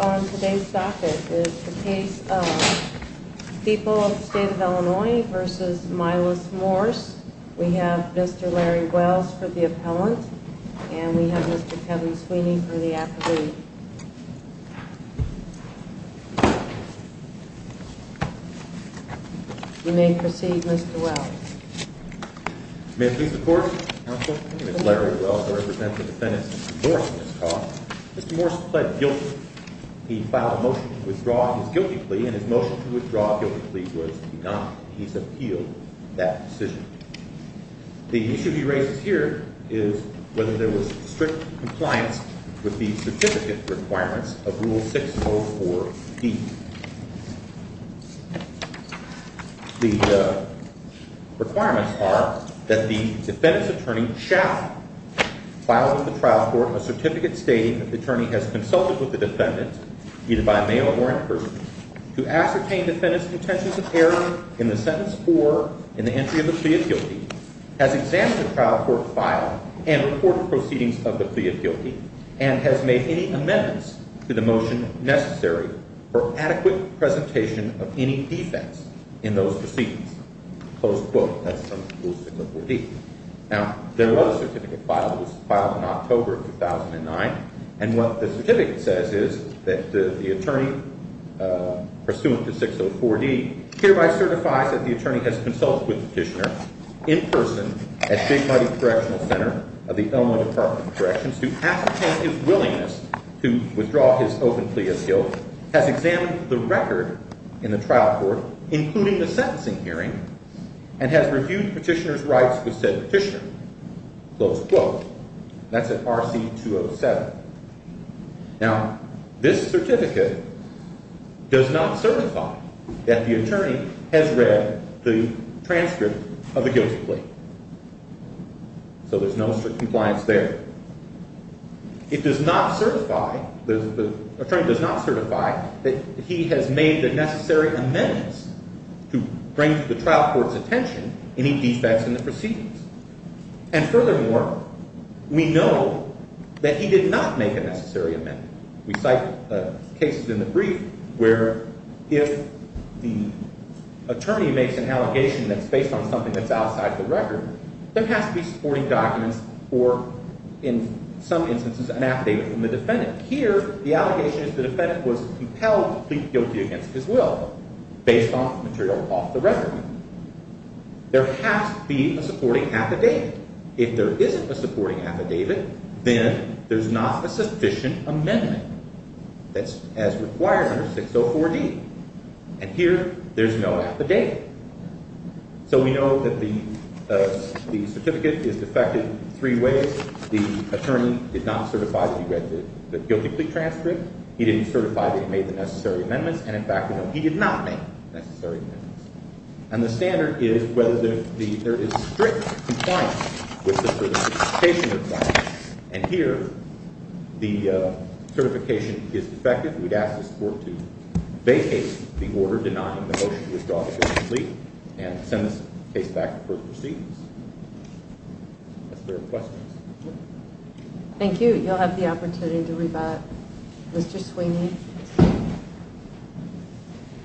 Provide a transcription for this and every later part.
On today's docket is the case of the people of the state of Illinois v. Mylos Morse. We have Mr. Larry Wells for the appellant, and we have Mr. Kevin Sweeney for the affidavit. You may proceed, Mr. Wells. May it please the Court, Mr. Counsel, Mr. Larry Wells, who represents the defendants in this case. Mr. Morse pled guilty. He filed a motion to withdraw his guilty plea, and his motion to withdraw his guilty plea was denied. He's appealed that decision. The issue he raises here is whether there was strict compliance with the certificate requirements of Rule 604B. The requirements are that the defendant's attorney shall file with the trial court a certificate stating that the attorney has consulted with the defendant, either by mail or in person, to ascertain defendant's intentions of error in the sentence or in the entry of the plea of guilty, has examined the trial court file and reported proceedings of the plea of guilty, and has made any amendments to the motion necessary for adequate presentation of any defense in those proceedings. Close quote. That's from Rule 604B. Now, there was a certificate filed. It was filed in October of 2009. And what the certificate says is that the attorney, pursuant to 604D, hereby certifies that the attorney has consulted with the petitioner in person at Big Muddy Correctional Center of the Illinois Department of Corrections to ascertain his willingness to withdraw his open plea of guilty, has examined the record in the trial court, including the sentencing hearing, and has reviewed petitioner's rights with said petitioner. Close quote. That's at RC 207. Now, this certificate does not certify that the attorney has read the transcript of the guilty plea. So there's no strict compliance there. It does not certify, the attorney does not certify that he has made the necessary amendments to bring to the trial court's attention any defense in the proceedings. And furthermore, we know that he did not make a necessary amendment. We cite cases in the brief where if the attorney makes an allegation that's based on something that's outside the record, there has to be supporting documents or, in some instances, an affidavit from the defendant. Here, the allegation is the defendant was compelled to plead guilty against his will based on material off the record. There has to be a supporting affidavit. If there isn't a supporting affidavit, then there's not a sufficient amendment that's as required under 604D. And here, there's no affidavit. So we know that the certificate is defective in three ways. The attorney did not certify that he read the guilty plea transcript. He didn't certify that he made the necessary amendments. And, in fact, he did not make the necessary amendments. And the standard is whether there is strict compliance with the certification requirements. And here, the certification is defective. We'd ask this court to vacate the order denying the motion to withdraw the guilty plea and send this case back to further proceedings. That's the request. Thank you. You'll have the opportunity to rebut. Mr. Sweeney.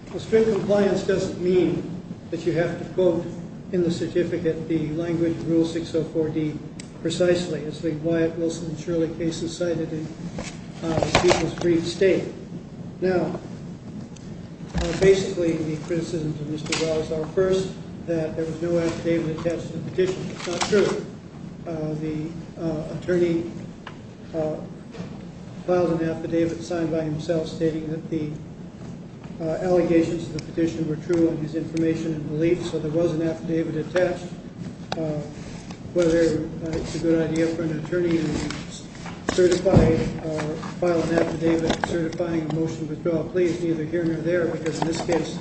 Well, strict compliance doesn't mean that you have to quote in the certificate the language of Rule 604D precisely, as the Wyatt, Wilson, and Shirley cases cited in the people's brief state. Now, basically, the criticisms of Mr. Wallace are, first, that there was no affidavit attached to the petition. That's not true. The attorney filed an affidavit signed by himself stating that the allegations to the petition were true in his information and beliefs, so there was an affidavit attached. Whether it's a good idea for an attorney to certify or file an affidavit certifying a motion to withdraw a plea is neither here nor there, because in this case,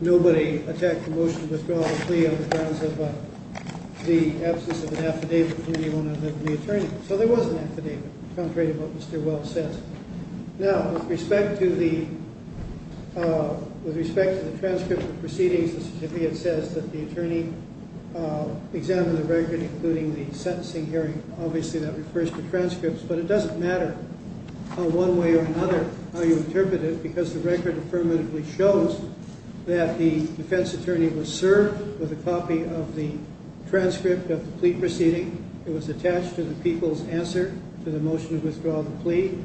nobody attacked the motion to withdraw the plea on the grounds of the absence of an affidavit from anyone other than the attorney. So there was an affidavit, contrary to what Mr. Wallace said. Now, with respect to the transcript of proceedings, the certificate says that the attorney examined the record, including the sentencing hearing. Obviously, that refers to transcripts, but it doesn't matter how one way or another you interpret it, because the record affirmatively shows that the defense attorney was served with a copy of the transcript of the plea proceeding. It was attached to the people's answer to the motion to withdraw the plea.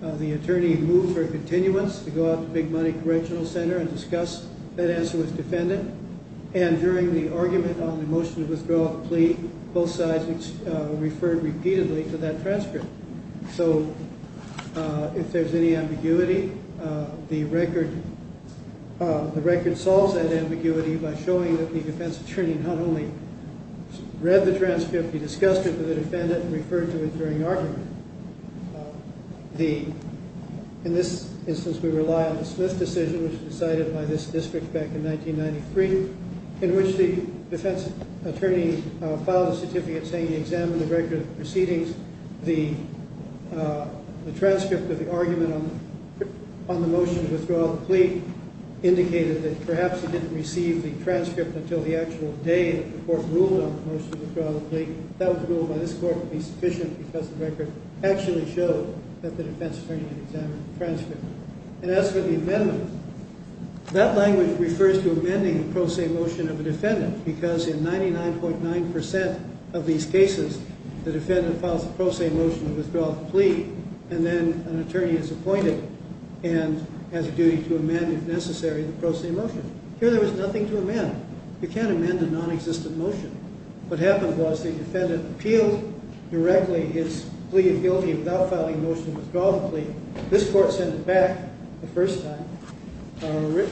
The attorney moved for a continuance to go out to Big Money Correctional Center and discuss that answer with the defendant, and during the argument on the motion to withdraw the plea, both sides referred repeatedly to that transcript. So if there's any ambiguity, the record solves that ambiguity by showing that the defense attorney not only read the transcript, he discussed it with the defendant and referred to it during argument. In this instance, we rely on the Smith decision, which was decided by this district back in 1993, in which the defense attorney filed a certificate saying he examined the record of proceedings. The transcript of the argument on the motion to withdraw the plea indicated that perhaps he didn't receive the transcript until the actual day that the court ruled on the motion to withdraw the plea. That was ruled by this court to be sufficient because the record actually showed that the defense attorney had examined the transcript. And as for the amendment, that language refers to amending the pro se motion of a defendant because in 99.9% of these cases, the defendant files a pro se motion to withdraw the plea, and then an attorney is appointed and has a duty to amend, if necessary, the pro se motion. Here there was nothing to amend. You can't amend a nonexistent motion. What happened was the defendant appealed directly his plea of guilty without filing a motion to withdraw the plea. This court sent it back the first time,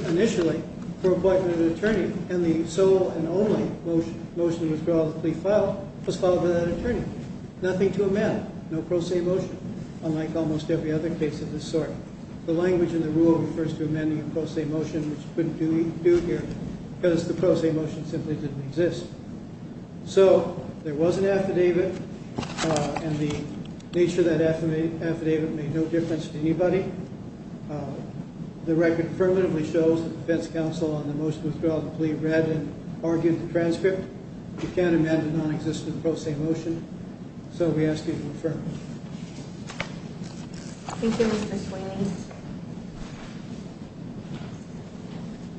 initially, for appointment of an attorney, and the sole and only motion to withdraw the plea filed was filed without an attorney. Nothing to amend. No pro se motion, unlike almost every other case of this sort. The language in the rule refers to amending a pro se motion, which couldn't be due here because the pro se motion simply didn't exist. So there was an affidavit, and the nature of that affidavit made no difference to anybody. The record affirmatively shows that the defense counsel, on the motion to withdraw the plea, read and argued the transcript. You can't amend a nonexistent pro se motion, so we ask you to affirm it. Thank you, Mr. Sweeney.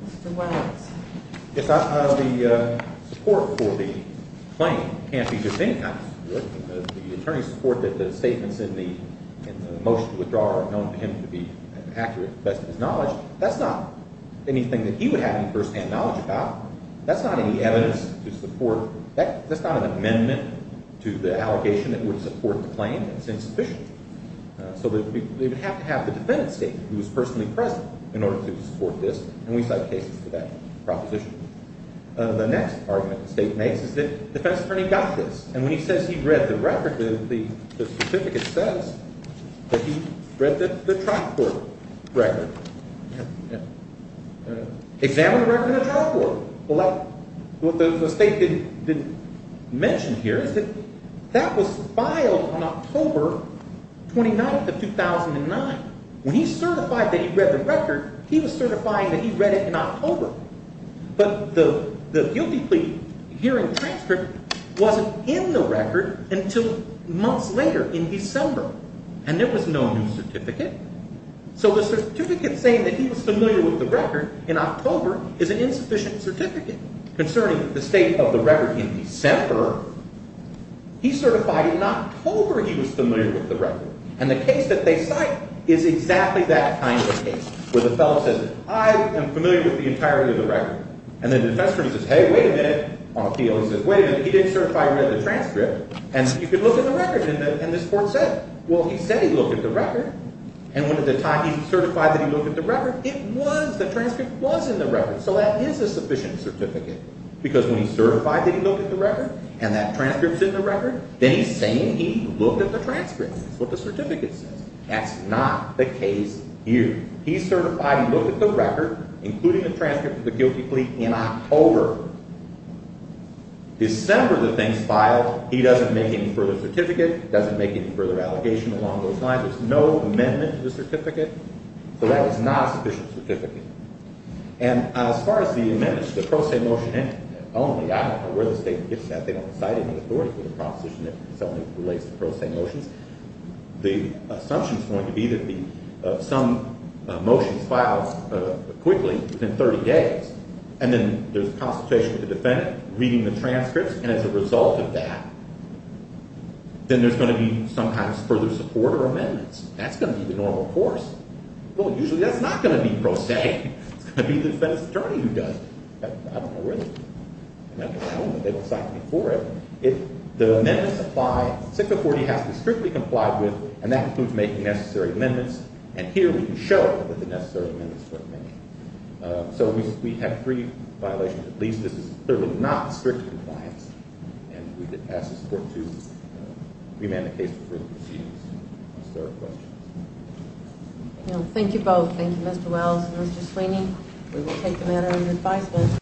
Mr. Williams. If that's not of the support for the claim, it can't be just any kind of support. The attorney's support that the statements in the motion to withdraw are known to him to be accurate, to the best of his knowledge, that's not anything that he would have any firsthand knowledge about. That's not any evidence to support. That's not an amendment to the allegation that would support the claim. It's insufficient. So they would have to have the defendant's statement, who was personally present, in order to support this, and we cite cases for that proposition. The next argument the State makes is that the defense attorney got this, and when he says he read the record, the certificate says that he read the trial court record. Examine the record in the trial court. What the State didn't mention here is that that was filed on October 29th of 2009. When he certified that he read the record, he was certifying that he read it in October. But the guilty plea hearing transcript wasn't in the record until months later in December, and there was no new certificate. So the certificate saying that he was familiar with the record in October is an insufficient certificate. Concerning the state of the record in December, he certified in October he was familiar with the record, and the case that they cite is exactly that kind of case, where the fellow says, I am familiar with the entirety of the record, and the defense attorney says, hey, wait a minute, on appeal, he says, wait a minute, he didn't certify he read the transcript, and you can look at the record, and this court said, well, he said he looked at the record, and when at the time he certified that he looked at the record, it was, the transcript was in the record. So that is a sufficient certificate, because when he certified that he looked at the record, and that transcript's in the record, then he's saying he looked at the transcript. That's what the certificate says. That's not the case here. He certified he looked at the record, including the transcript of the guilty plea, in October. December, the thing's filed. He doesn't make any further certificate. He doesn't make any further allegation along those lines. There's no amendment to the certificate. So that is not a sufficient certificate. And as far as the amendments to the pro se motion, only, I don't know where the state gets that. They don't cite any authority for the proposition that only relates to pro se motions. The assumption is going to be that some motions filed quickly, within 30 days, and then there's a consultation with the defendant, reading the transcripts, and as a result of that, then there's going to be, sometimes, further support or amendments. That's going to be the normal course. Well, usually that's not going to be pro se. It's going to be the defense attorney who does it. I don't know where that is. I don't know that they will cite me for it. If the amendments apply, 640 has to be strictly complied with, and that includes making necessary amendments. And here we can show that the necessary amendments were made. So we have three violations. At least this is clearly not strict compliance. And we could ask the court to remand the case for further proceedings. Is there a question? No. Thank you both. Thank you, Mr. Wells and Mr. Sweeney. We will take the matter under advisement.